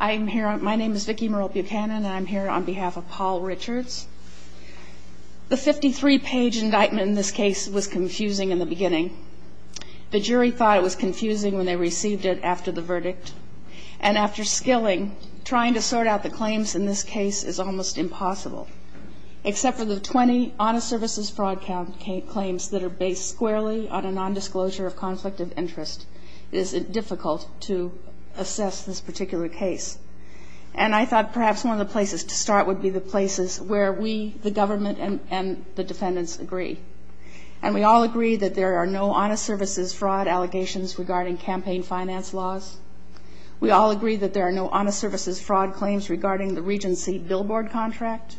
I'm here my name is Vicki Merle Buchanan and I'm here on behalf of Paul Richards the 53 page indictment in this case was confusing in the beginning the jury thought it was confusing when they received it after the verdict and after skilling trying to sort out the claims in this case is almost impossible except for the 20 honest services fraud count claims that are based squarely on a non-disclosure of conflict of interest is it difficult to assess this particular case and I thought perhaps one of the places to start would be the places where we the government and the defendants agree and we all agree that there are no honest services fraud allegations regarding campaign finance laws we all agree that there are no honest services fraud claims regarding the Regency billboard contract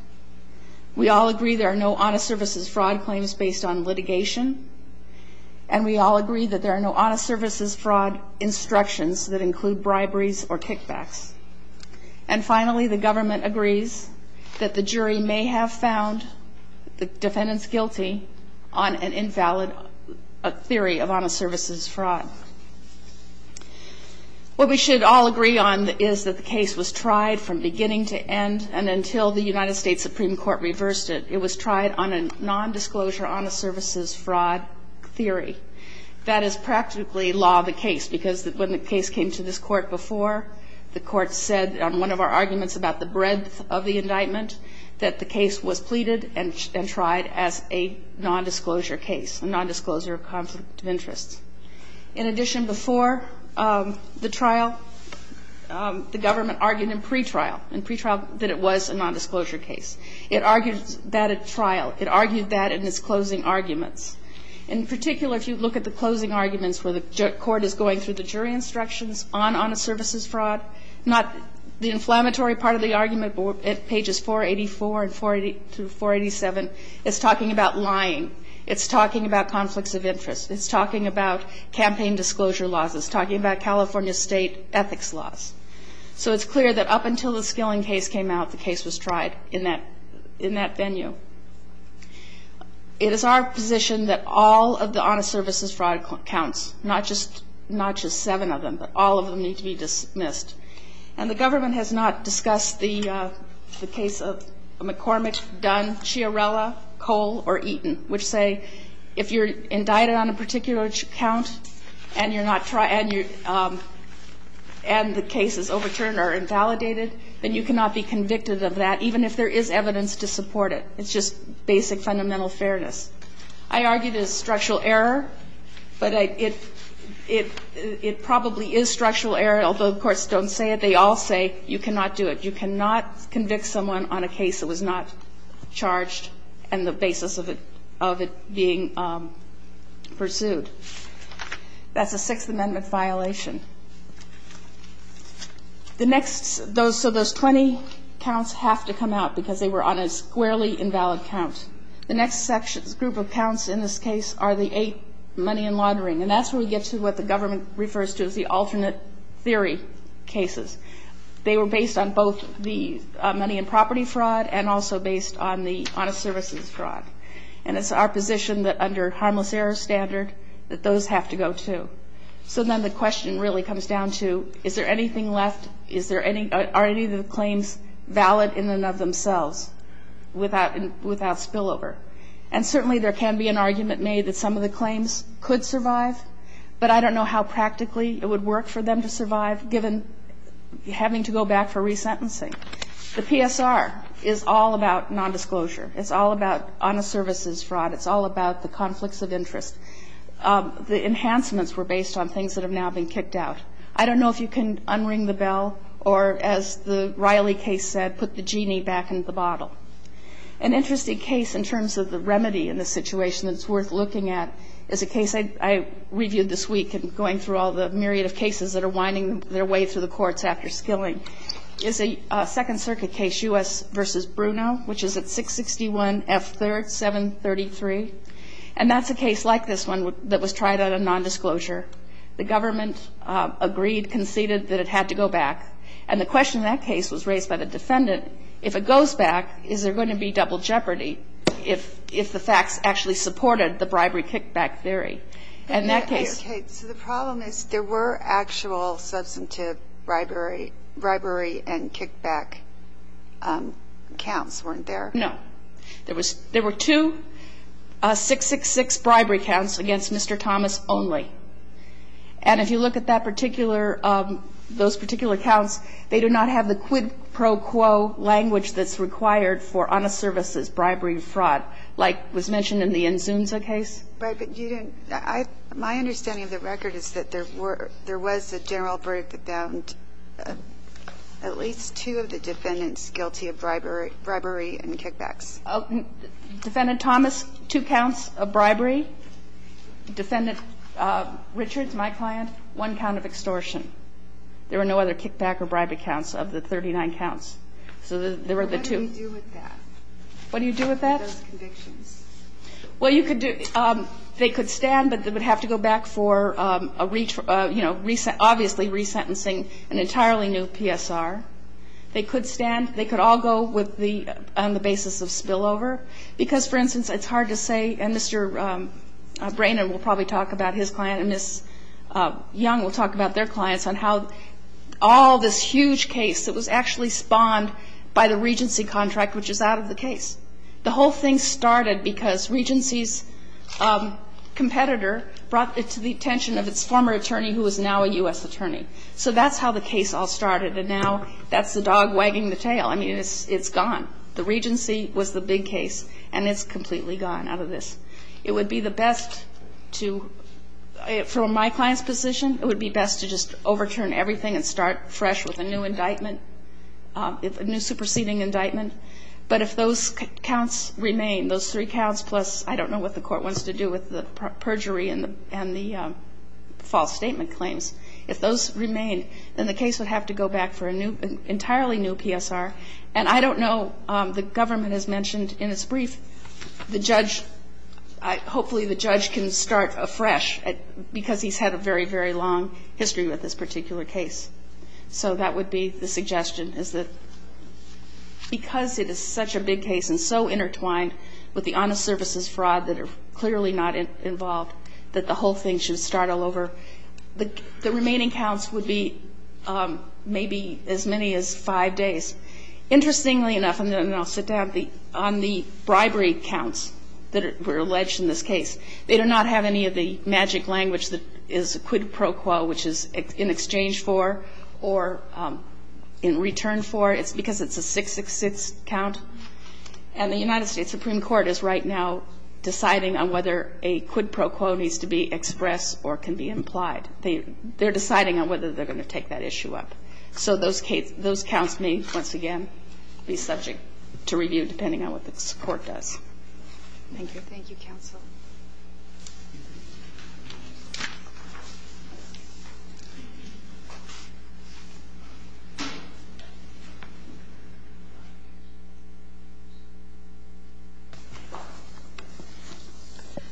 we all agree there are no honest services fraud claims based on litigation and we all agree that there are no honest services fraud instructions that include briberies or kickbacks and finally the government agrees that the jury may have found the defendants guilty on an invalid theory of honest services fraud what we should all agree on is that the case was tried from beginning to end and until the United States Supreme Court reversed it it was tried on a non-disclosure honest services fraud theory that is practically law the case because that when the case came to this court before the court said on one of our arguments about the breadth of the indictment that the case was pleaded and tried as a non-disclosure case a non-disclosure of conflict of interest in addition before the trial the government argued in pretrial and pretrial that it was a non-disclosure case it argued that at trial it argued that in its closing arguments in particular if you look at the closing arguments where the court is going through the jury instructions on honest services fraud not the inflammatory part of the argument but at pages 484 and 482 487 it's talking about lying it's talking about conflicts of interest it's talking about campaign disclosure laws it's talking about California state ethics laws so it's clear that up until the indictment was tried in that in that venue it is our position that all of the honest services fraud counts not just not just seven of them but all of them need to be dismissed and the government has not discussed the the case of McCormick, Dunn, Chiarella, Cole or Eaton which say if you're indicted on a particular count and you're not trying you and the case is overturned or even if there is evidence to support it it's just basic fundamental fairness I argued is structural error but it it it probably is structural error although courts don't say it they all say you cannot do it you cannot convict someone on a case that was not charged and the basis of it of it being pursued that's a 20 counts have to come out because they were on a squarely invalid count the next sections group of counts in this case are the eight money and laundering and that's where we get to what the government refers to as the alternate theory cases they were based on both the money and property fraud and also based on the honest services fraud and it's our position that under harmless error standard that those have to go too so then the question really comes down to is there anything left is there any are any of the claims valid in and of themselves without without spillover and certainly there can be an argument made that some of the claims could survive but I don't know how practically it would work for them to survive given having to go back for resentencing the PSR is all about non-disclosure it's all about honest services fraud it's all about the conflicts of interest the enhancements were based on things that have now been kicked out I don't know if you can unring the bell or as the Riley case said put the genie back into the bottle an interesting case in terms of the remedy in the situation that's worth looking at is a case I reviewed this week and going through all the myriad of cases that are winding their way through the courts after skilling is a Second Circuit case u.s. versus Bruno which is at 661 F 3rd 733 and that's a case like this one that was tried at a non-disclosure the government agreed conceded that it had to go back and the question that case was raised by the defendant if it goes back is there going to be double jeopardy if if the facts actually supported the bribery kickback theory and that case the problem is there were actual substantive bribery bribery and kickback counts weren't there no there was there were two six six bribery counts against mr. Thomas only and if you look at that particular those particular counts they do not have the quid pro quo language that's required for honest services bribery fraud like was mentioned in the end zooms a case but you didn't I my understanding of the record is that there were there was a general verdict that bound at least two of the defendants guilty of bribery bribery and kickbacks defendant Thomas two counts of bribery defendant Richards my client one count of extortion there were no other kickback or bribe accounts of the 39 counts so there were the two what do you do with that well you could do they could stand but they would have to go back for a reach for you know recent obviously resentencing an entirely new PSR they could stand they could all go with the on the basis of spillover because for instance it's hard to say and mr. Brainerd will probably talk about his client and this young will talk about their clients on how all this huge case that was actually spawned by the Regency contract which is out of the case the whole thing started because Regency's competitor brought it to the attention of its former attorney who is now a that's how the case all started and now that's the dog wagging the tail I mean it's it's gone the Regency was the big case and it's completely gone out of this it would be the best to from my client's position it would be best to just overturn everything and start fresh with a new indictment if a new superseding indictment but if those counts remain those three counts plus I don't know what the court wants to do with the and the case would have to go back for a new entirely new PSR and I don't know the government has mentioned in its brief the judge hopefully the judge can start afresh because he's had a very very long history with this particular case so that would be the suggestion is that because it is such a big case and so intertwined with the honest services fraud that are clearly not involved that the whole thing should start all over the remaining counts would be maybe as many as five days interestingly enough and then I'll sit down on the bribery counts that were alleged in this case they do not have any of the magic language that is quid pro quo which is in exchange for or in return for it's because it's a 666 count and the United States Supreme Court is right now deciding on whether a quid pro quo needs to be expressed or can be implied they they're deciding on whether they're going to take that issue up so those case those counts may once again be subject to review depending on what the court does thank you thank you counsel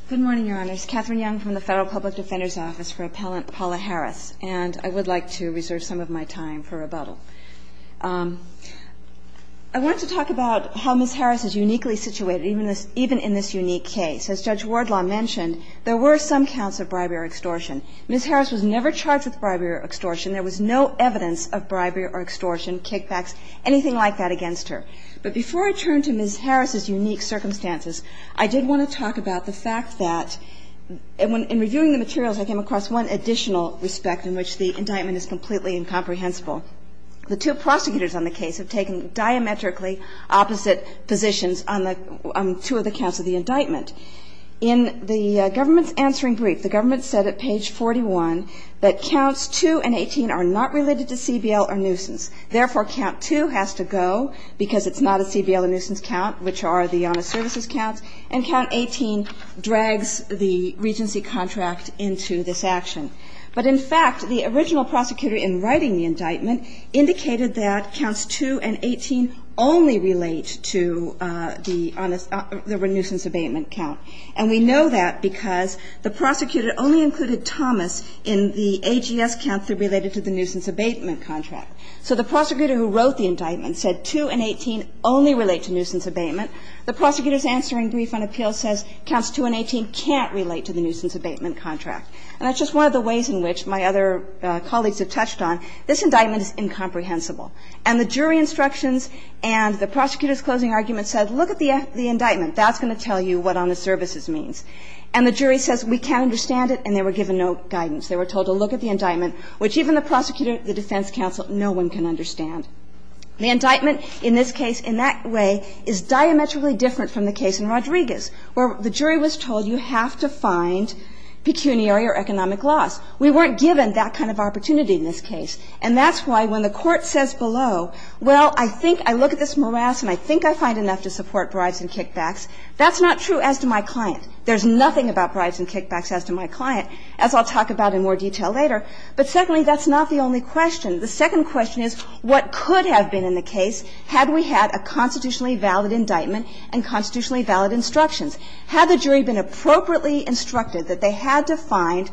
good morning your honors Catherine Young from the Federal Public Defender's Office for Appellant Paula Harris and I would like to reserve some of my time for rebuttal I want to talk about how Ms. Harris is uniquely situated even this even in this unique case as Judge Wardlaw mentioned there were some counts of bribery or extortion Ms. Harris was never charged with bribery or extortion there was no evidence of bribery or extortion kickbacks anything like that against her but before I turn to Ms. Harris's unique circumstances I did want to talk about the fact that and when in reviewing the materials I came across one additional respect in which the indictment is completely incomprehensible the two prosecutors on the case have taken diametrically opposite positions on the two of the counts of the indictment in the government's answering brief the government said at page 41 that counts 2 and 18 are not related to CBL or nuisance therefore count 2 has to go because it's not a CBL or nuisance count which are the honest services counts and count 18 drags the regency contract into this action but in fact the original prosecutor in writing the indictment indicated that counts 2 and 18 only relate to the nuisance abatement count and we know that because the prosecutor only included Thomas in the AGS counts that are related to the nuisance abatement contract so the prosecutor who wrote the indictment said 2 and 18 only relate to nuisance abatement the prosecutor's answering brief on appeals says counts 2 and 18 can't relate to the nuisance abatement contract and that's just one of the ways in which my other colleagues have touched on this indictment is incomprehensible and the jury instructions and the prosecutor's closing argument said look at the indictment that's going to tell you what honest guidance they were told to look at the indictment which even the prosecutor the defense counsel no one can understand the indictment in this case in that way is diametrically different from the case in Rodriguez where the jury was told you have to find pecuniary or economic loss we weren't given that kind of opportunity in this case and that's why when the court says below well I think I look at this morass and I think I find enough to support bribes and kickbacks that's not true as to my client there's nothing about about in more detail later but secondly that's not the only question the second question is what could have been in the case had we had a constitutionally valid indictment and constitutionally valid instructions had the jury been appropriately instructed that they had to find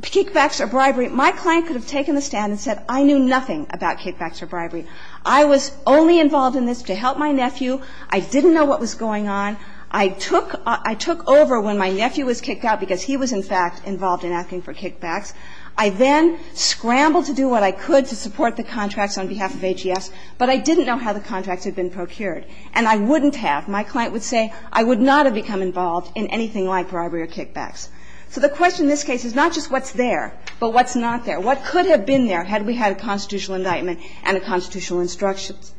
kickbacks or bribery my client could have taken the stand and said I knew nothing about kickbacks or bribery I was only involved in this to help my nephew I didn't know what was going on I took I took over when my nephew was kicked out because he was in fact involved in asking for kickbacks I then scrambled to do what I could to support the contracts on behalf of AGS but I didn't know how the contracts had been procured and I wouldn't have my client would say I would not have become involved in anything like bribery or kickbacks so the question this case is not just what's there but what's not there what could have been there had we had a constitutional indictment and a constitutional instructions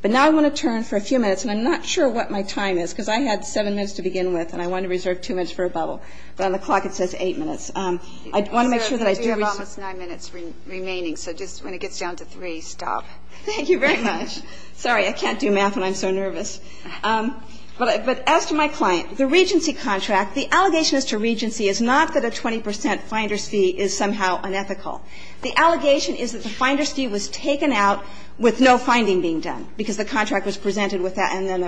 but now I want to turn for a few minutes and I'm not sure what my time is because I had seven minutes to begin with and I want to reserve two minutes for a bubble but on the clock it says eight minutes I want to make sure that I do have almost nine minutes remaining so just when it gets down to three stop thank you very much sorry I can't do math and I'm so nervous but as to my client the Regency contract the allegation as to Regency is not that a 20% finder's fee is somehow unethical the allegation is that the finder's fee was taken out with no finding being done because the contract was presented with that and then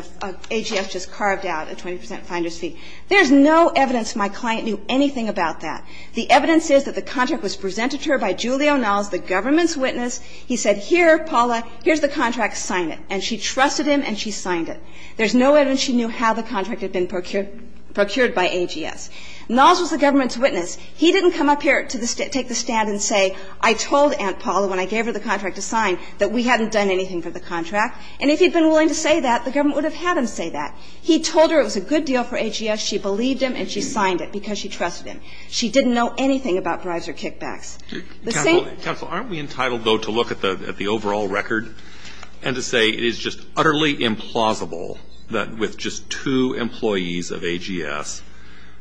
AGS just carved out a 20% finder's fee there's no evidence my client knew anything about that the evidence is that the contract was presented to her by Julio Nalls the government's witness he said here Paula here's the contract sign it and she trusted him and she signed it there's no evidence she knew how the contract had been procured procured by AGS Nalls was the government's witness he didn't come up here to take the stand and say I told Aunt Paula when I gave her the contract to sign that we hadn't done anything for the contract and if he'd been willing to say that the government would have had him say that he told her it was a good deal for AGS she believed him and she signed it because she trusted him she didn't know anything about bribes or kickbacks the same council aren't we entitled though to look at the at the overall record and to say it is just utterly implausible that with just two employees of AGS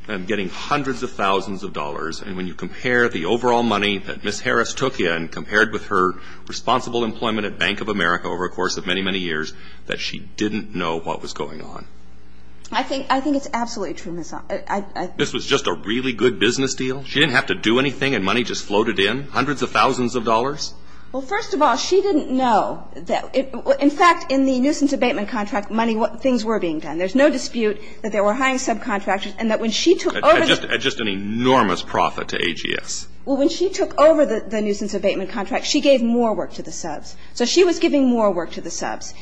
and getting hundreds of thousands of dollars and when you compare the overall money that Miss Harris took in compared with her responsible employment at Bank of America over a course of many many years that she didn't know what was going on I think I think it's absolutely true Miss this was just a really good business deal she didn't have to do anything and money just floated in hundreds of thousands of dollars well first of all she didn't know that in fact in the nuisance abatement contract money what things were being done there's no dispute that there were high subcontractors and that when she took over just just an enormous profit to AGS well when she took over the nuisance abatement contract she gave more work to the subs so she was giving more work to the subs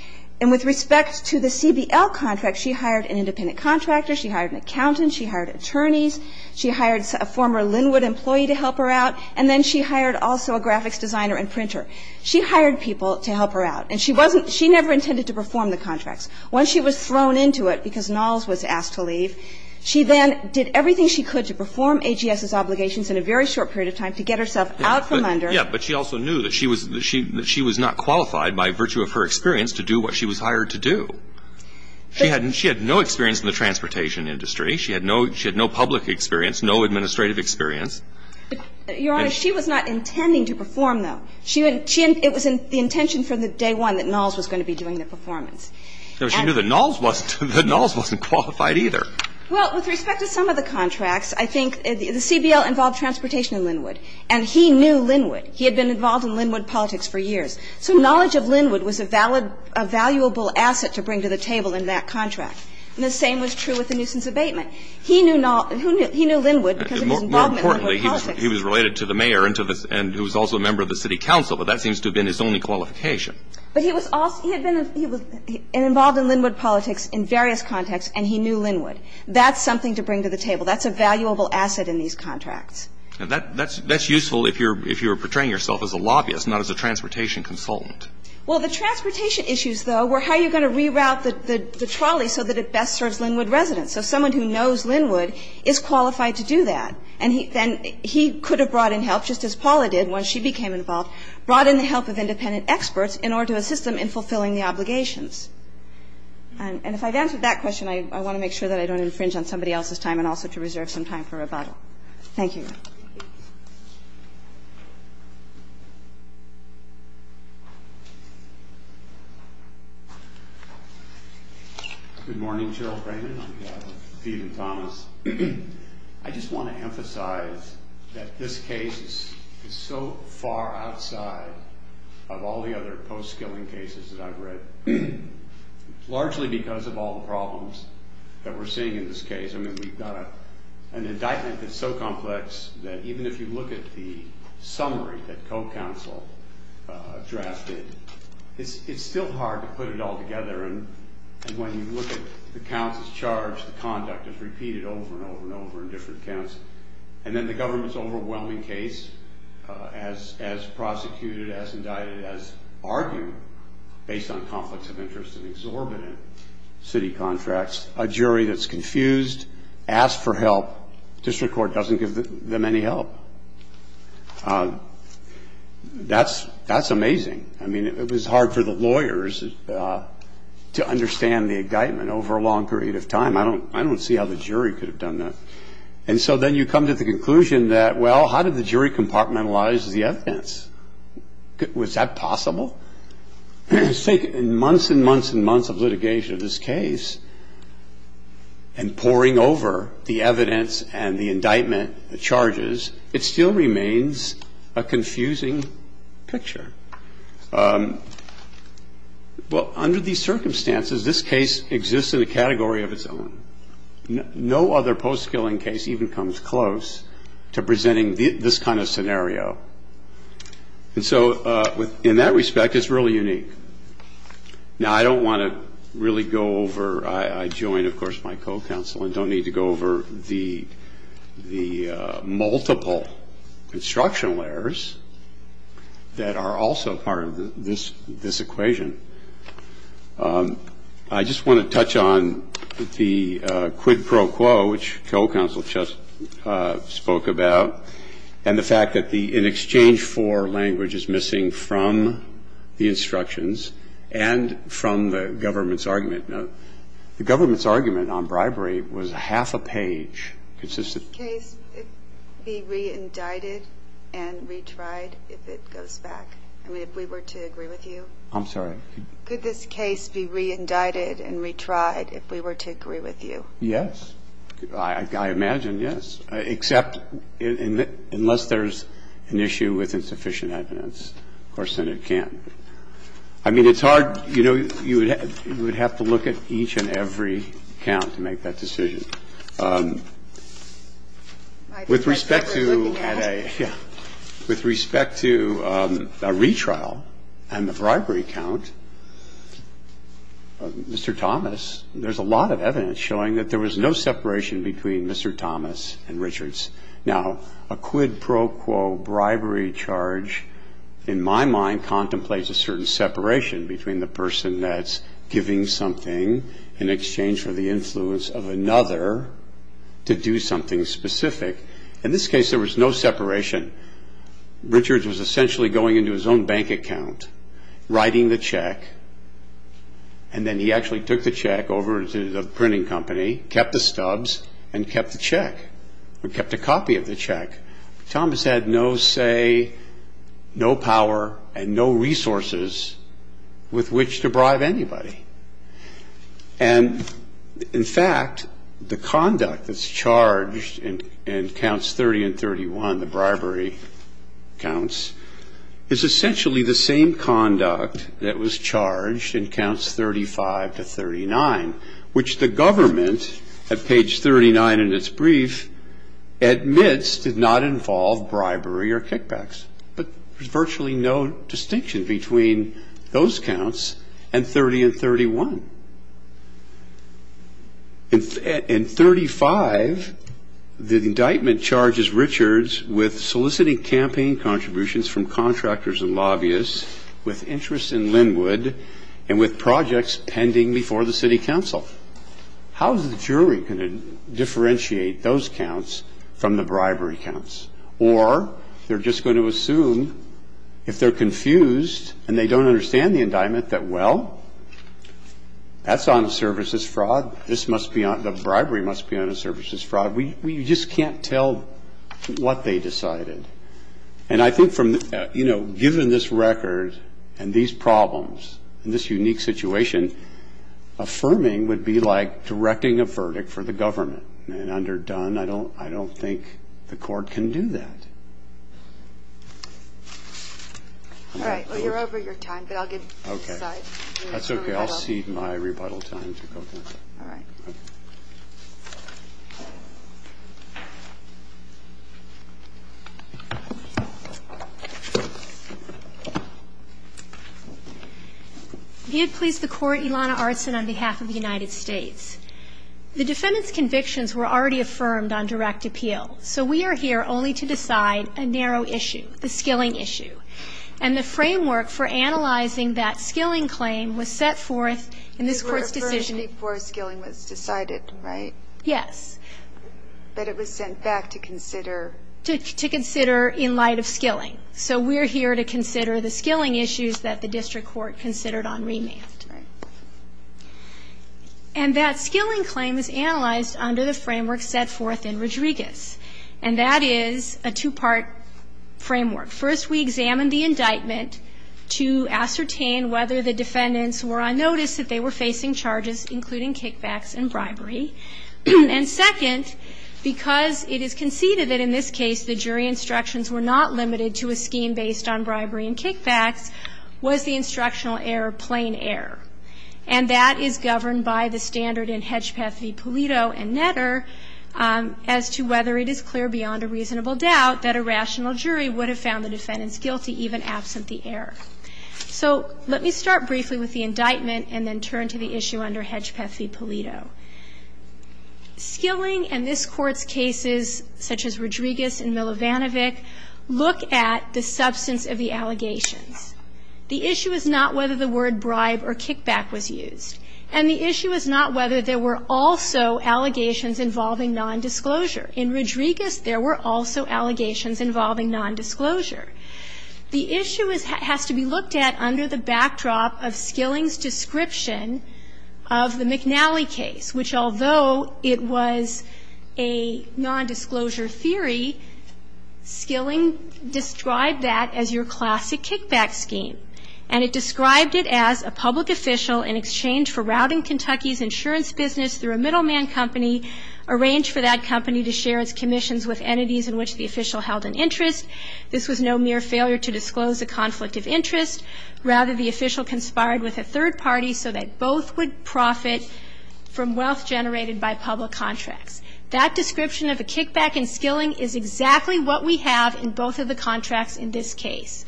and with respect to the CBL contract she hired an independent contractor she hired an accountant she hired attorneys she hired a former Linwood employee to help her out and then she hired also a graphics designer and printer she hired people to help her out and she wasn't she never intended to perform the contracts once she was thrown into it because Knowles was asked to leave she then did everything she could to perform AGS's obligations in a very short period of time to get herself out from under yeah but she also knew that she was that she that she was not qualified by virtue of her experience to do what she was hired to do she hadn't she had no experience in the transportation industry she had no she had no public experience no administrative experience your honor she was not intending to perform though she and she and it was in the intention for the day one that Knowles was going to be doing the performance so she knew that Knowles wasn't that Knowles wasn't qualified either well with respect to some of the contracts I think the CBL involved transportation in Linwood and he knew Linwood he had been involved in Linwood politics for years so knowledge of Linwood was a valid a valuable asset to bring to the table in that contract and the same was true with the nuisance abatement he knew not who knew he knew Linwood because he was related to the mayor into this and who was also a member of the City Council but that seems to have been his only qualification but he was also he had been he was involved in Linwood politics in various contexts and he knew Linwood that's something to bring to the table that's a valuable asset in these contracts and that that's that's useful if you're if you're portraying yourself as a lobbyist not as a transportation consultant well the transportation issues though we're how you're going to reroute that the trolley so that it best serves Linwood residents so someone who knows Linwood is qualified to do that and he then he could have brought in help just as Paula did when she became involved brought in the help of independent experts in order to assist them in fulfilling the obligations and if I've answered that question I want to make sure that I don't infringe on somebody else's time and also to reserve some time for rebuttal. Thank you. Good morning Cheryl Brayman, I'm here with Steve and Thomas. I just want to emphasize that this case is so far outside of all the other post-skilling cases that I've read. Largely because of all the problems that we're seeing in this case I mean we've got an indictment that's so complex that even if you look at the summary that co-counsel drafted it's still hard to put it all together and when you look at the counts as charged the conduct is repeated over and over and over in different counts and then the government's overwhelming case as as prosecuted as indicted as argued based on conflicts of interest and exorbitant city contracts a jury that's confused asked for help district court doesn't give them any help that's that's amazing I mean it was hard for the lawyers to understand the indictment over a long period of time I don't I don't see how the jury could have done that and so then you come to the conclusion that well how did the jury compartmentalize the evidence was that possible I think in months and months and months of litigation of this case and pouring over the evidence and the indictment the charges it still remains a confusing picture well under these circumstances this case exists in a category of its own no other post-skilling case even comes close to presenting this kind of scenario and so with in that respect it's really unique now I don't want to really go over I join of course my co-counsel and don't need to go over the the multiple construction layers that are also part of this this equation I just want to touch on the quid pro quo which co-counsel just spoke about and the fact that the in exchange for language is missing from the instructions and from the government's argument no the government's argument on bribery was half a page consistent case be re-indicted and retried if it goes back I mean if we were to agree with you I'm sorry could this case be re-indicted and retried if we were to agree with you yes I imagine yes except in that unless there's an issue with insufficient evidence of course Senate can't I mean it's hard you know you would have to look at each and every count to make that decision with respect to yeah with respect to a retrial and the bribery count mr. Thomas there's a lot of evidence showing that there was no separation between mr. Thomas and Richards now a quid pro quo bribery charge in my mind contemplates a certain separation between the person that's giving something in exchange for the influence of another to do something specific in this case there was no separation Richards was essentially going into his own bank account writing the check and then he actually took the check over to the printing company kept the stubs and kept the check we kept a copy of the check Thomas had no say no power and no resources with which to bribe anybody and in fact the conduct that's charged in counts 30 and 31 the bribery counts is essentially the same conduct that was charged in counts 35 to 39 which the government at page 39 in its brief admits did not involve bribery or kickbacks but there's virtually no distinction between those counts and 30 and 31 in 35 the indictment charges Richards with soliciting campaign contributions from contractors and lobbyists with interest in Linwood and with projects pending before the City Council how's the jury going to differentiate those counts from the bribery counts or they're just going to assume if they're confused and they don't understand the indictment that well that's on services fraud this must be on the bribery must be on a services fraud we just can't tell what they decided and I think from you know given this record and these problems in this unique situation affirming would be like directing a verdict for the government and under done I don't I don't think the court can do that all right well you're over your time but I'll get okay that's okay I'll see my rebuttal time you'd please the court Ilana arts and on behalf of the United States the defendants convictions were already affirmed on direct appeal so we are here only to decide a narrow issue the skilling issue and the framework for analyzing that skilling claim was set forth in this court's decision before skilling was decided right yes but it was sent back to consider to consider in light of the skilling issues that the district court considered on remand and that skilling claim is analyzed under the framework set forth in Rodriguez and that is a two-part framework first we examine the indictment to ascertain whether the defendants were on notice that they were facing charges including kickbacks and bribery and second because it is conceded that in this case the bribery and kickbacks was the instructional error plain error and that is governed by the standard in Hedgepeth v. Pulido and netter as to whether it is clear beyond a reasonable doubt that a rational jury would have found the defendants guilty even absent the error so let me start briefly with the indictment and then turn to the issue under Hedgepeth v. Pulido skilling and this courts cases such as Rodriguez and Milovanovic look at the substance of the allegations the issue is not whether the word bribe or kickback was used and the issue is not whether there were also allegations involving non-disclosure in Rodriguez there were also allegations involving non-disclosure the issue is has to be looked at under the backdrop of skillings description of the McNally case which although it was a non-disclosure theory skilling described that as your classic kickback scheme and it described it as a public official in exchange for routing Kentucky's insurance business through a middleman company arranged for that company to share its commissions with entities in which the official held an interest this was no mere failure to disclose a conflict of interest rather the official conspired with a third party so that both would profit from wealth generated by public contracts that description of this case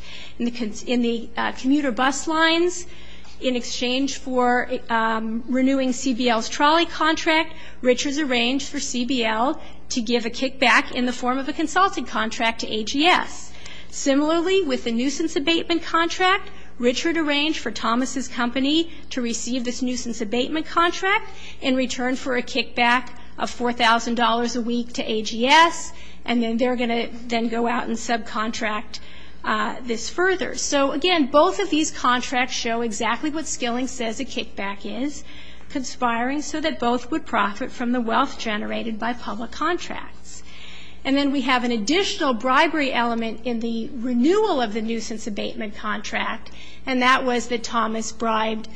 in the commuter bus lines in exchange for renewing CBL's trolley contract Richards arranged for CBL to give a kickback in the form of a consulting contract to AGS similarly with the nuisance abatement contract Richard arranged for Thomas's company to receive this nuisance abatement contract in return for a kickback of $4,000 a week to AGS and then they're going to then go out and subcontract this further so again both of these contracts show exactly what skilling says a kickback is conspiring so that both would profit from the wealth generated by public contracts and then we have an additional bribery element in the renewal of the nuisance abatement contract and that was that Thomas bribed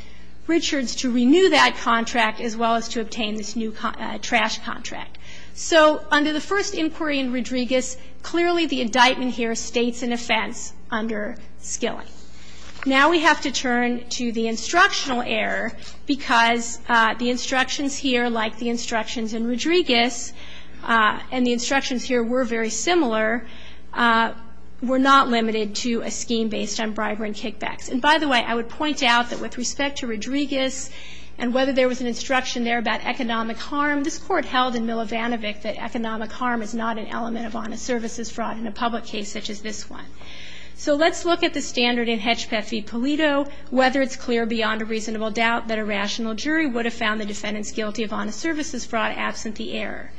Richards to renew that contract as well as to obtain this new trash contract so under the first inquiry in Rodriguez clearly the indictment here states an offense under skilling now we have to turn to the instructional error because the instructions here like the instructions in Rodriguez and the instructions here were very similar were not limited to a scheme based on bribery and kickbacks and by the way I would point out that with respect to Rodriguez and whether there was an instruction there about economic harm this court held in Milovanovic that economic harm is not an element of honest services fraud in a public case such as this one so let's look at the standard in Hetchpeth v. Polito whether it's clear beyond a reasonable doubt that a rational jury would have found the defendants guilty of honest services fraud absent the error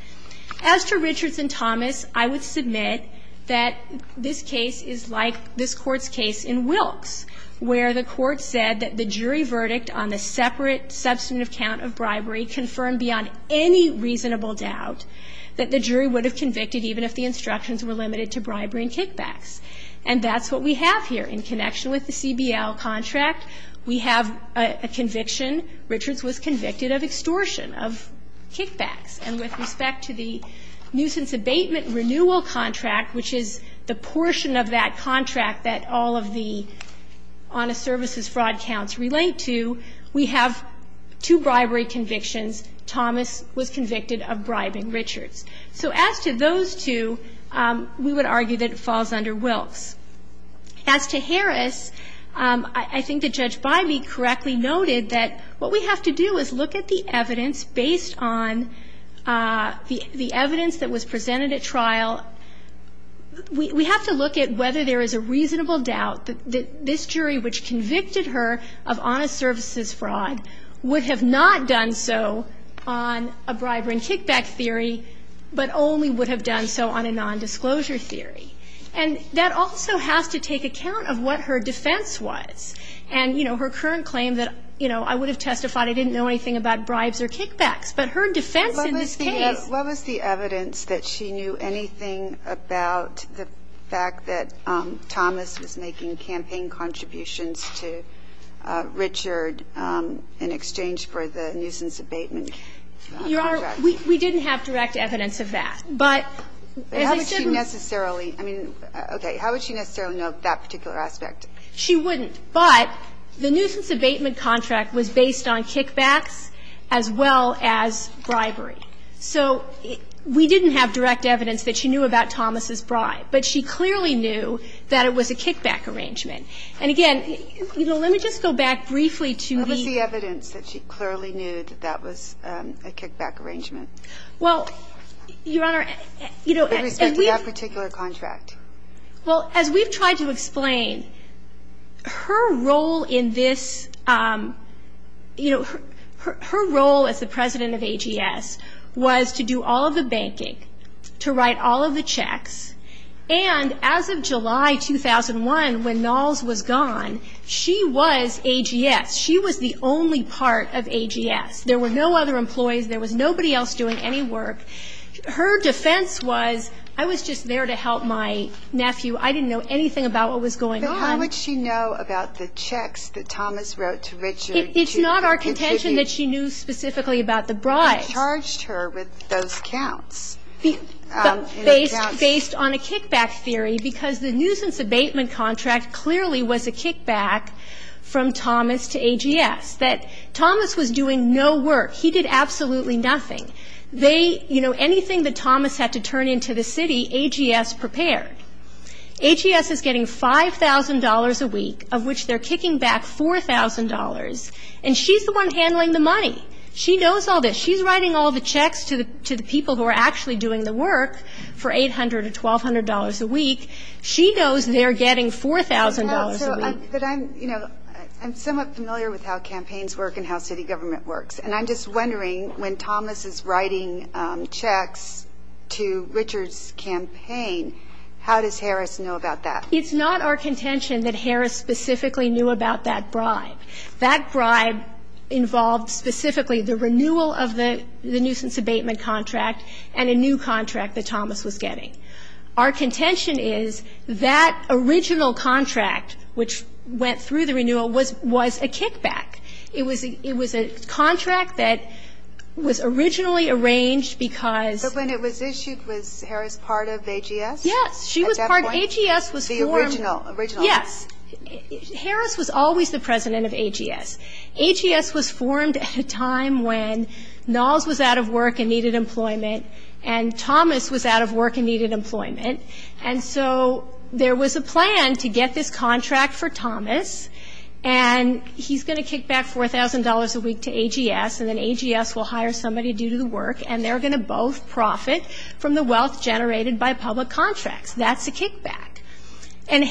as to Richards and Thomas I would submit that this case is like this court's case in Wilkes where the court said that the jury verdict on the separate substantive count of bribery confirmed beyond any reasonable doubt that the jury would have convicted even if the instructions were limited to bribery and kickbacks and that's what we have here in connection with the CBL contract we have a conviction Richards was convicted of extortion of kickbacks and with respect to the nuisance abatement renewal contract which is the portion of that contract that all of the honest services fraud counts relate to we have two bribery convictions Thomas was convicted of bribing Richards so as to those two we would argue that it falls under Wilkes as to Harris I think the judge by me correctly noted that what we have to do is look at the evidence based on the the evidence that was presented at trial we have to look at whether there is a reasonable doubt that this jury which convicted her of honest services fraud would have not done so on a bribery and kickback theory but only would have done so on a nondisclosure theory and that also has to take account of what her defense was and you know her current claim that you know I would have testified I didn't know anything about bribes or kickbacks but her defense what was the evidence that she knew anything about the fact that Thomas was making campaign contributions to Richard in exchange for the nuisance abatement we didn't have direct evidence of that but necessarily I mean okay how would she necessarily know that particular aspect she wouldn't but the nuisance abatement contract was didn't have direct evidence that she knew about Thomas's bribe but she clearly knew that it was a kickback arrangement and again you know let me just go back briefly to the evidence that she clearly knew that that was a kickback arrangement well your honor you know that particular contract well as we've tried to explain her role in this you know her role as the president of AGS was to do all of the banking to write all of the checks and as of July 2001 when Knowles was gone she was AGS she was the only part of AGS there were no other employees there was nobody else doing any work her defense was I was just there to help my nephew I didn't know anything about what was going on how would she know about the checks that Thomas wrote to Richard it's not our specifically about the bride charged her with those counts based on a kickback theory because the nuisance abatement contract clearly was a kickback from Thomas to AGS that Thomas was doing no work he did absolutely nothing they you know anything that Thomas had to turn into the city AGS prepared AGS is getting $5,000 a week of which they're kicking back $4,000 and she's the one handling the money she knows all this she's writing all the checks to the to the people who are actually doing the work for $800 to $1,200 a week she knows they're getting $4,000 I'm you know I'm somewhat familiar with how campaigns work and how city government works and I'm just wondering when Thomas is writing checks to Richards campaign how does Harris know about that it's not our specifically the renewal of the nuisance abatement contract and a new contract that Thomas was getting our contention is that original contract which went through the renewal was was a kickback it was a it was a contract that was originally arranged because when it was issued was Harris part of AGS yes she was part of AGS was the original original yes Harris was always the president of AGS AGS was formed at a time when Knowles was out of work and needed employment and Thomas was out of work and needed employment and so there was a plan to get this contract for Thomas and he's gonna kick back $4,000 a week to AGS and then AGS will hire somebody due to the work and they're gonna both profit from the wealth generated by public contracts that's a kickback and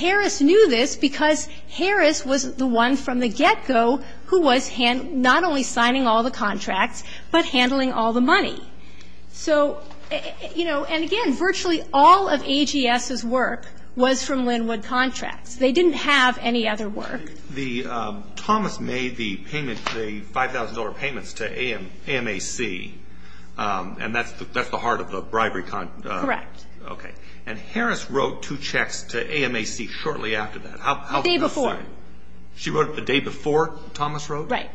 go who was hand not only signing all the contracts but handling all the money so you know and again virtually all of AGS is work was from Linwood contracts they didn't have any other work the Thomas made the payment the $5,000 payments to am am AC and that's that's the heart of the bribery con correct okay and Harris wrote two checks to am AC shortly after that how they before she wrote the day before Thomas wrote right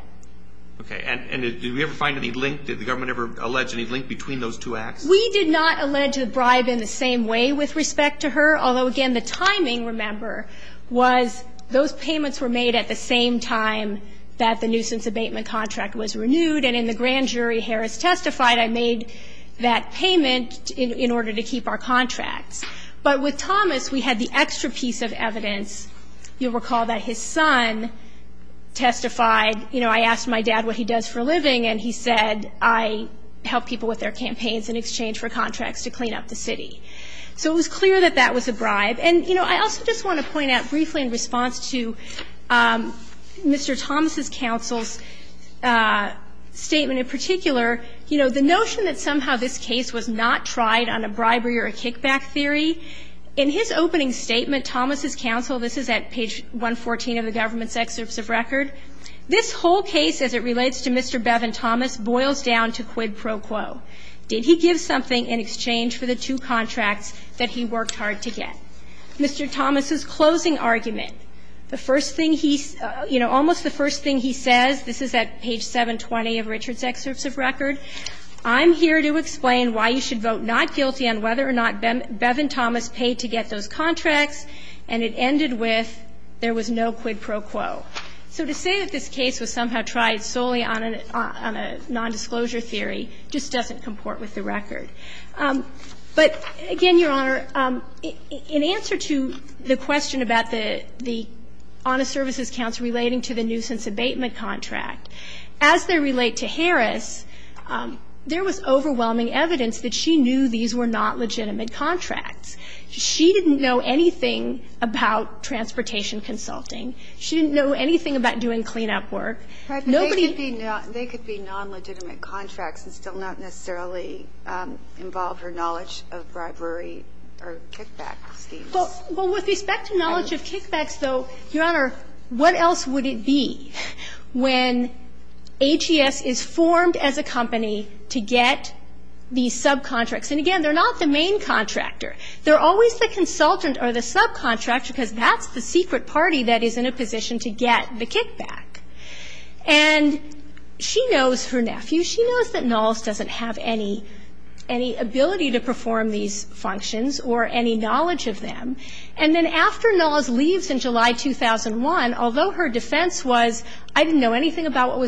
okay and did we ever find any link did the government ever allege any link between those two acts we did not allege the bribe in the same way with respect to her although again the timing remember was those payments were made at the same time that the nuisance abatement contract was renewed and in the grand jury Harris testified I made that payment in order to keep our contracts but with Thomas we had the extra piece of evidence you recall that his son testified you know I asked my dad what he does for a living and he said I help people with their campaigns in exchange for contracts to clean up the city so it was clear that that was a bribe and you know I also just want to point out briefly in response to mr. Thomas's counsel's statement in particular you know the notion that somehow this case was not tried on a bribery or a kickback theory in his opening statement Thomas's counsel this is at page 114 of the government's excerpts of record this whole case as it relates to mr. Bevin Thomas boils down to quid pro quo did he give something in exchange for the two contracts that he worked hard to get mr. Thomas's closing argument the first thing he's you know almost the first thing he says this is at page 720 of Richard's excerpts of record I'm here to explain why you should vote not guilty on whether or not Bevin Thomas paid to get those contracts and it ended with there was no quid pro quo so to say that this case was somehow tried solely on an on a non-disclosure theory just doesn't comport with the record but again your honor in answer to the question about the the honest services counts relating to the nuisance abatement contract as they relate to Harris there was overwhelming evidence that she knew these were not legitimate contracts she didn't know anything about transportation consulting she didn't know anything about doing cleanup work nobody they could be non-legitimate contracts and still not necessarily involved her knowledge of bribery or kickback schemes well with respect to knowledge of kickbacks though your honor what else would it be when HES is formed as a company to get these subcontracts and again they're not the main contractor they're always the consultant or the subcontractor because that's the secret party that is in a position to get the kickback and she knows her nephew she knows that Knowles doesn't have any any ability to perform these functions or any knowledge of them and then after Knowles leaves in July 2001 although her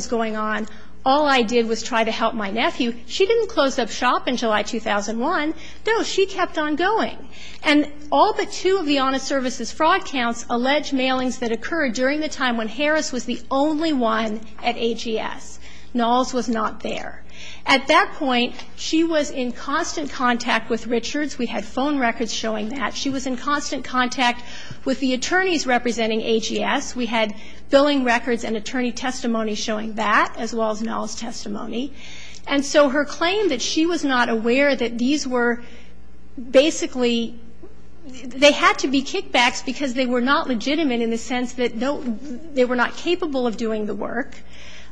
going on all I did was try to help my nephew she didn't close up shop in July 2001 no she kept on going and all but two of the honest services fraud counts alleged mailings that occurred during the time when Harris was the only one at HES Knowles was not there at that point she was in constant contact with Richards we had phone records showing that she was in constant contact with the attorneys representing HES we had billing records and attorney testimony showing that as well as Knowles testimony and so her claim that she was not aware that these were basically they had to be kickbacks because they were not legitimate in the sense that they were not capable of doing the work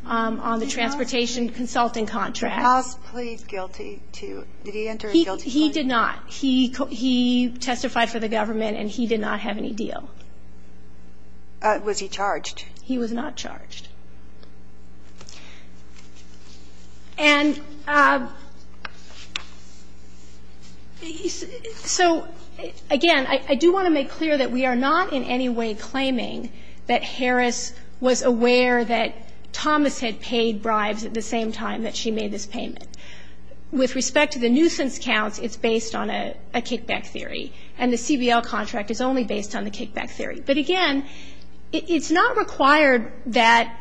on the transportation consulting contract he did not he testified for the government and he did not have any deal was he charged he was not charged and so again I do want to make clear that we are not in any way claiming that Harris was aware that Thomas had paid bribes at the same time that she made this payment with respect to the nuisance counts it's based on a kickback theory and the CBL contract is only based on the kickback theory but again it's not required that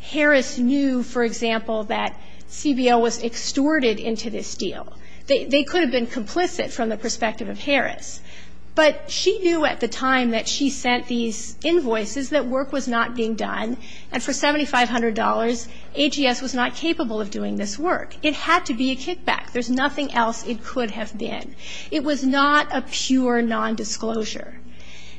Harris knew for example that CBL was extorted into this deal they could have been complicit from the perspective of Harris but she knew at the time that she sent these invoices that work was not being done and for $7,500 HES was not capable of doing this it had to be a kickback there's nothing else it could have been it was not a pure non-disclosure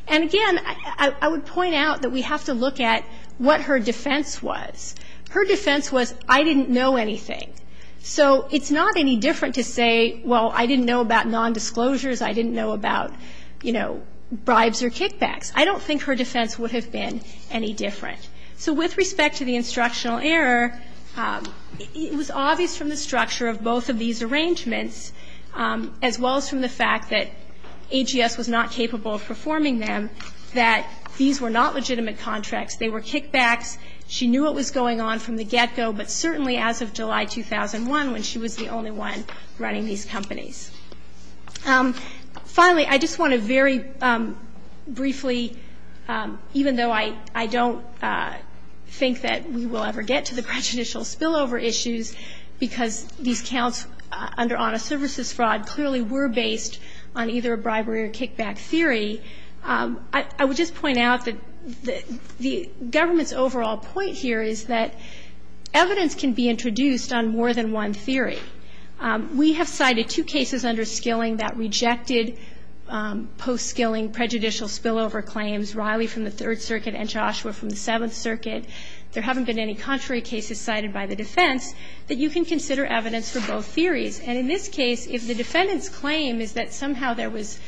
and again I would point out that we have to look at what her defense was her defense was I didn't know anything so it's not any different to say well I didn't know about non-disclosures I didn't know about you know bribes or kickbacks I don't think her defense would have been any different so with respect to the instructional error it was obvious from the structure of both of these arrangements as well as from the fact that HES was not capable of performing them that these were not legitimate contracts they were kickbacks she knew what was going on from the get-go but certainly as of July 2001 when she was the only one running these companies finally I just want to very briefly even though I I don't think that we will ever get to the prejudicial spillover issues because these counts under honest services fraud clearly were based on either a bribery or kickback theory I would just point out that the government's overall point here is that evidence can be introduced on more than one theory we have cited two cases under skilling that rejected post-skilling prejudicial spillover claims Riley from the Third Circuit and Joshua from the Seventh Circuit there haven't been any contrary cases cited by the defense that you can consider evidence for both theories and in this case if the defendant's claim is that somehow there was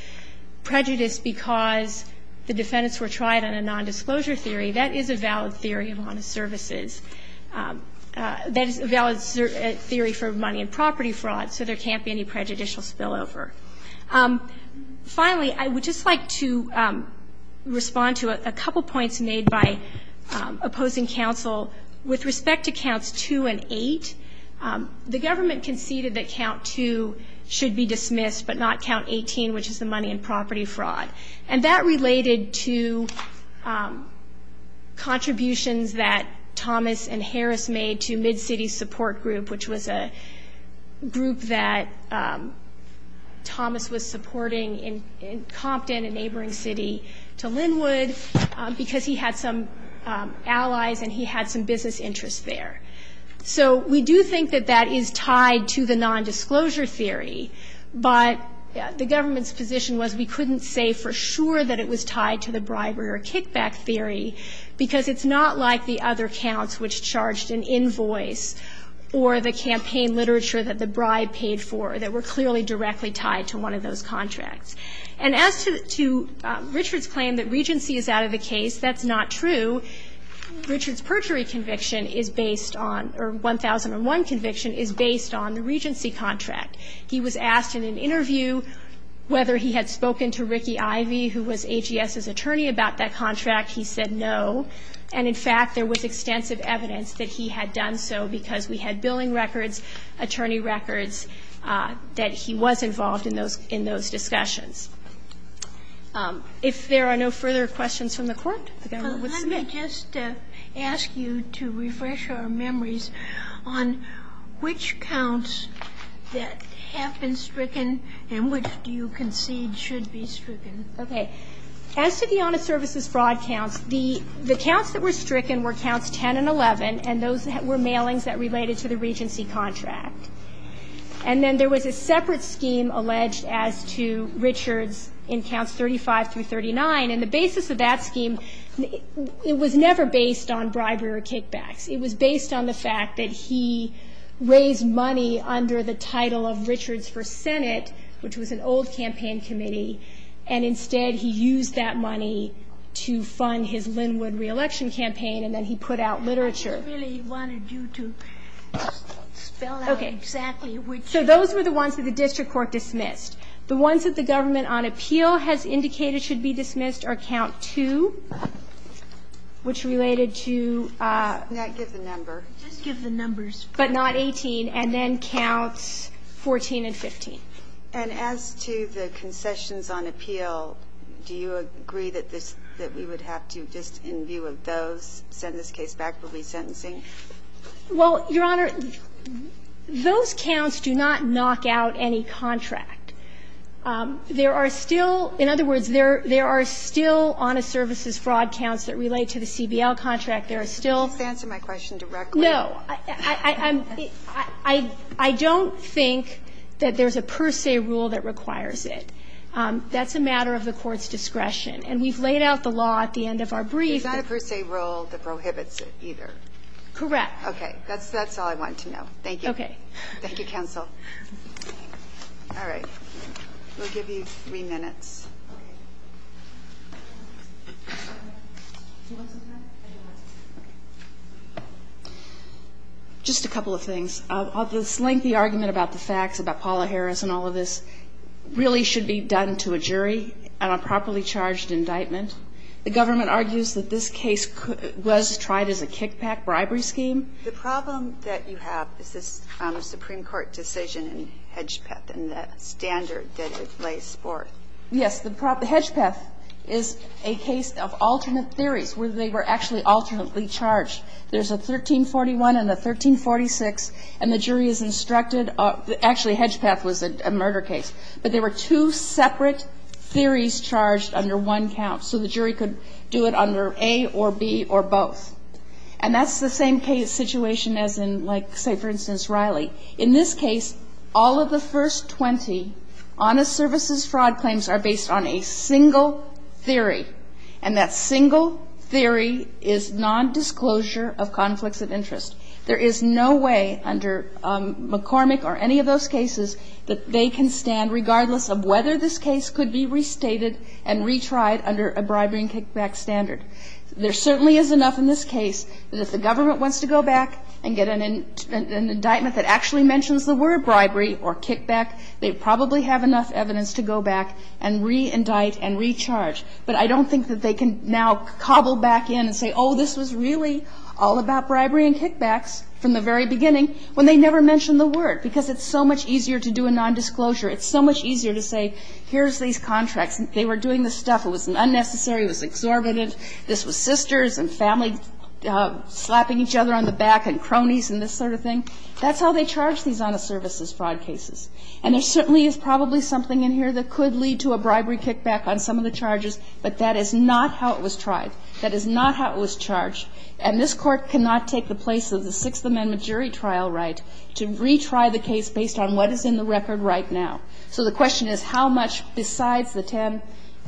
prejudice because the defendants were tried on a non-disclosure theory that is a valid theory of honest services that is a valid theory for money and property fraud so there can't be any prejudicial spillover finally I would just like to respond to a couple points made by opposing counsel with respect to counts 2 and 8 the government conceded that count 2 should be dismissed but not count 18 which is the money and property fraud and that related to contributions that Thomas and Harris made to mid city support group which was a group that Thomas was supporting in Compton a neighboring city to Linwood because he had some allies and he had some business interests there so we do think that that is tied to the non-disclosure theory but the government's position was we couldn't say for sure that it was tied to the bribery or kickback theory because it's not like the other counts which charged an invoice or the campaign literature that the bribe paid for that were clearly directly tied to one of those is based on the regency contract he was asked in an interview whether he had spoken to Ricky Ivey who was AGS's attorney about that contract he said no and in fact there was extensive evidence that he had done so because we had billing records attorney records that he was involved in those in those discussions if there are no further questions from the court. Let me just ask you to refresh our memories on which counts that have been stricken and which do you concede should be stricken. Okay as to the honest services fraud counts the the counts that were stricken were counts 10 and 11 and those that were mailings that related to the regency contract and then there was a separate scheme alleged as to Richards in counts 35 through 39 and the basis of that scheme it was never based on bribery or kickbacks it was based on the fact that he raised money under the title of Richards for Senate which was an old campaign committee and instead he used that money to fund his Linwood re-election campaign and then he put out literature. I really wanted you to spell out exactly which. So those were the ones that the district court dismissed the ones that the government on appeal has indicated should be dismissed are count 2 which related to. Can I give the number? Just give the numbers. But not 18 and then counts 14 and 15. And as to the concessions on appeal do you agree that this that we would have to just in view of those send this case back we'll be sentencing? Well your honor those counts do not knock out any contract. There are still in other words there there are still honest services fraud counts that relate to the CBL contract there are still. Just answer my question directly. No I don't think that there's a per se rule that requires it. That's a matter of the court's discretion and we've laid out the law at the end of our brief. There's not a per se rule that prohibits it either. Correct. Okay that's all I wanted to know. Thank you. Thank you counsel. All right. We'll give you three minutes. Just a couple of things. This lengthy argument about the facts about Paula Harris and all of this really should be done to a jury on a properly charged indictment. The government argues that this case was tried as a kickback bribery scheme. The problem that you have is this Supreme Court decision in Hedgepeth and the standard that it lays forth. Yes the Hedgepeth is a case of alternate theories where they were actually alternately charged. There's a 1341 and a 1346 and the jury is instructed actually Hedgepeth was a murder case. But there were two separate theories charged under one count so the jury could do it under A or B or both. And that's the same case situation as in like say for instance Riley. In this case all of the first 20 honest services fraud claims are based on a single theory. And that single theory is nondisclosure of conflicts of interest. There is no way under McCormick or any of those cases that they can stand regardless of whether this case could be restated and retried under a bribery and kickback standard. There certainly is enough in this case that if the government wants to go back and get an indictment that actually mentions the word bribery or kickback, they probably have enough evidence to go back and re-indict and recharge. But I don't think that they can now cobble back in and say, oh, this was really all about bribery and kickbacks from the very beginning when they never mentioned the word, because it's so much easier to do a nondisclosure. It's so much easier to say here's these contracts. They were doing this stuff. It was unnecessary. It was exorbitant. This was sisters and family slapping each other on the back and cronies and this sort of thing. That's how they charge these honest services fraud cases. And there certainly is probably something in here that could lead to a bribery kickback on some of the charges, but that is not how it was tried. That is not how it was charged. And this Court cannot take the place of the Sixth Amendment jury trial right to retry the case based on what is in the record right now. So the question is how much besides the 10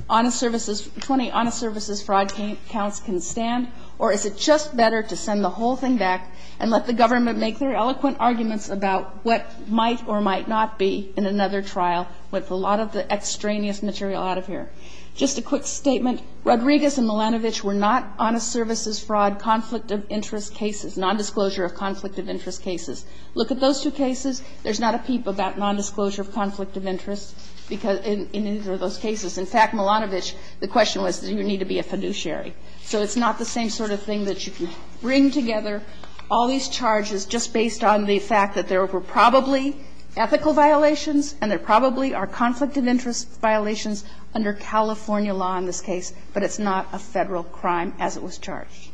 honest services, 20 honest services fraud counts can stand, or is it just better to send the whole thing back and let the government make their eloquent arguments about what might or might not be in another trial with a lot of the extraneous material out of here? Just a quick statement. Rodriguez and Milanovic were not honest services fraud conflict of interest cases, nondisclosure of conflict of interest cases. Look at those two cases. There's not a peep about nondisclosure of conflict of interest in either of those cases. In fact, Milanovic, the question was, do you need to be a fiduciary? So it's not the same sort of thing that you can bring together all these charges just based on the fact that there were probably ethical violations and there probably are conflict of interest violations under California law in this case, but it's not a Federal crime as it was charged.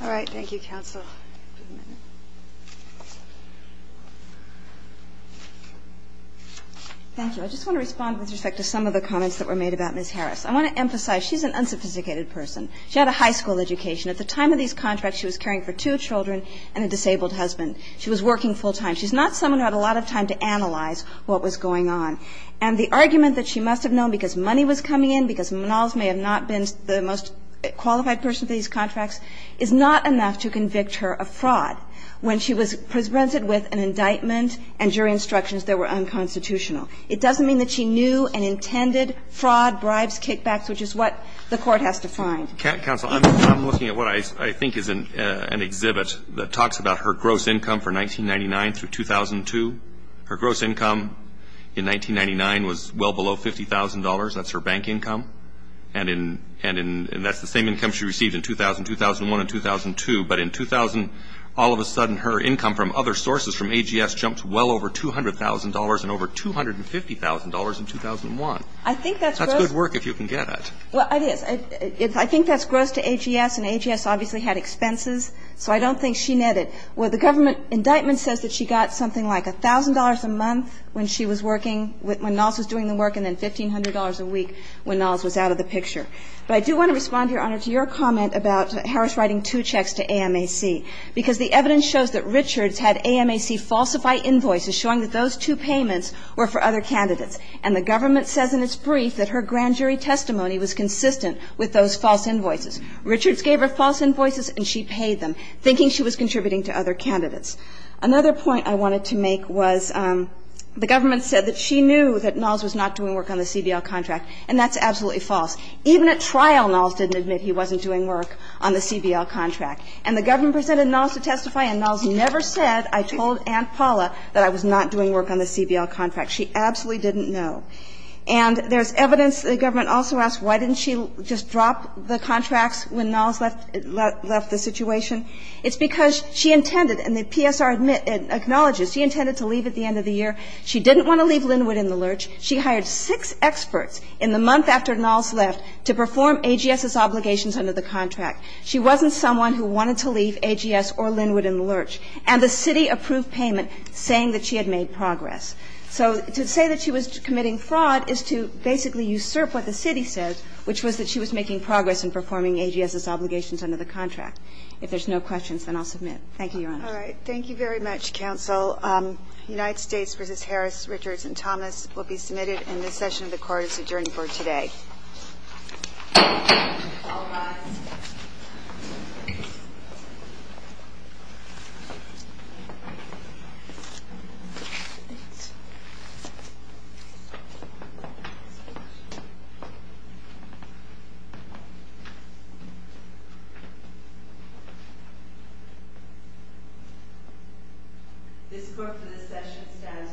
All right. Thank you, counsel. Thank you. I just want to respond with respect to some of the comments that were made about Ms. Harris. I want to emphasize she's an unsophisticated person. She had a high school education. At the time of these contracts, she was caring for two children and a disabled husband. She was working full time. She's not someone who had a lot of time to analyze what was going on. And the argument that she must have known because money was coming in, because Manalovic may have not been the most qualified person for these contracts, is not enough to convict her of fraud when she was presented with an indictment and jury instructions that were unconstitutional. It doesn't mean that she knew and intended fraud, bribes, kickbacks, which is what the Court has defined. Counsel, I'm looking at what I think is an exhibit that talks about her gross income for 1999 through 2002. Her gross income in 1999 was well below $50,000. That's her bank income. And that's the same income she received in 2000, 2001, and 2002. But in 2000, all of a sudden, her income from other sources, from AGS, jumped well over $200,000 and over $250,000 in 2001. I think that's gross. That's good work if you can get it. Well, it is. I think that's gross to AGS, and AGS obviously had expenses. So I don't think she netted. Well, the government indictment says that she got something like $1,000 a month when she was working, when Knowles was doing the work, and then $1,500 a week when Knowles was out of the picture. But I do want to respond, Your Honor, to your comment about Harris writing two checks to AMAC, because the evidence shows that Richards had AMAC falsified invoices showing that those two payments were for other candidates. And the government says in its brief that her grand jury testimony was consistent with those false invoices. Richards gave her false invoices and she paid them, thinking she was contributing to other candidates. Another point I wanted to make was the government said that she knew that Knowles was not doing work on the CBL contract, and that's absolutely false. Even at trial, Knowles didn't admit he wasn't doing work on the CBL contract. And the government presented Knowles to testify, and Knowles never said, I told Aunt Paula that I was not doing work on the CBL contract. She absolutely didn't know. And there's evidence the government also asked why didn't she just drop the contracts when Knowles left the situation. It's because she intended, and the PSR acknowledges, she intended to leave at the end of the year. She didn't want to leave Linwood in the lurch. She hired six experts in the month after Knowles left to perform AGS's obligations under the contract. She wasn't someone who wanted to leave AGS or Linwood in the lurch. And the city approved payment saying that she had made progress. So to say that she was committing fraud is to basically usurp what the city said, which was that she was making progress in performing AGS's obligations under the contract. If there's no questions, then I'll submit. Thank you, Your Honor. All right. Thank you very much, counsel. United States v. Harris, Richards and Thomas will be submitted. And this session of the court is adjourned for today. All rise. This court for this session stands adjourned. Thank you.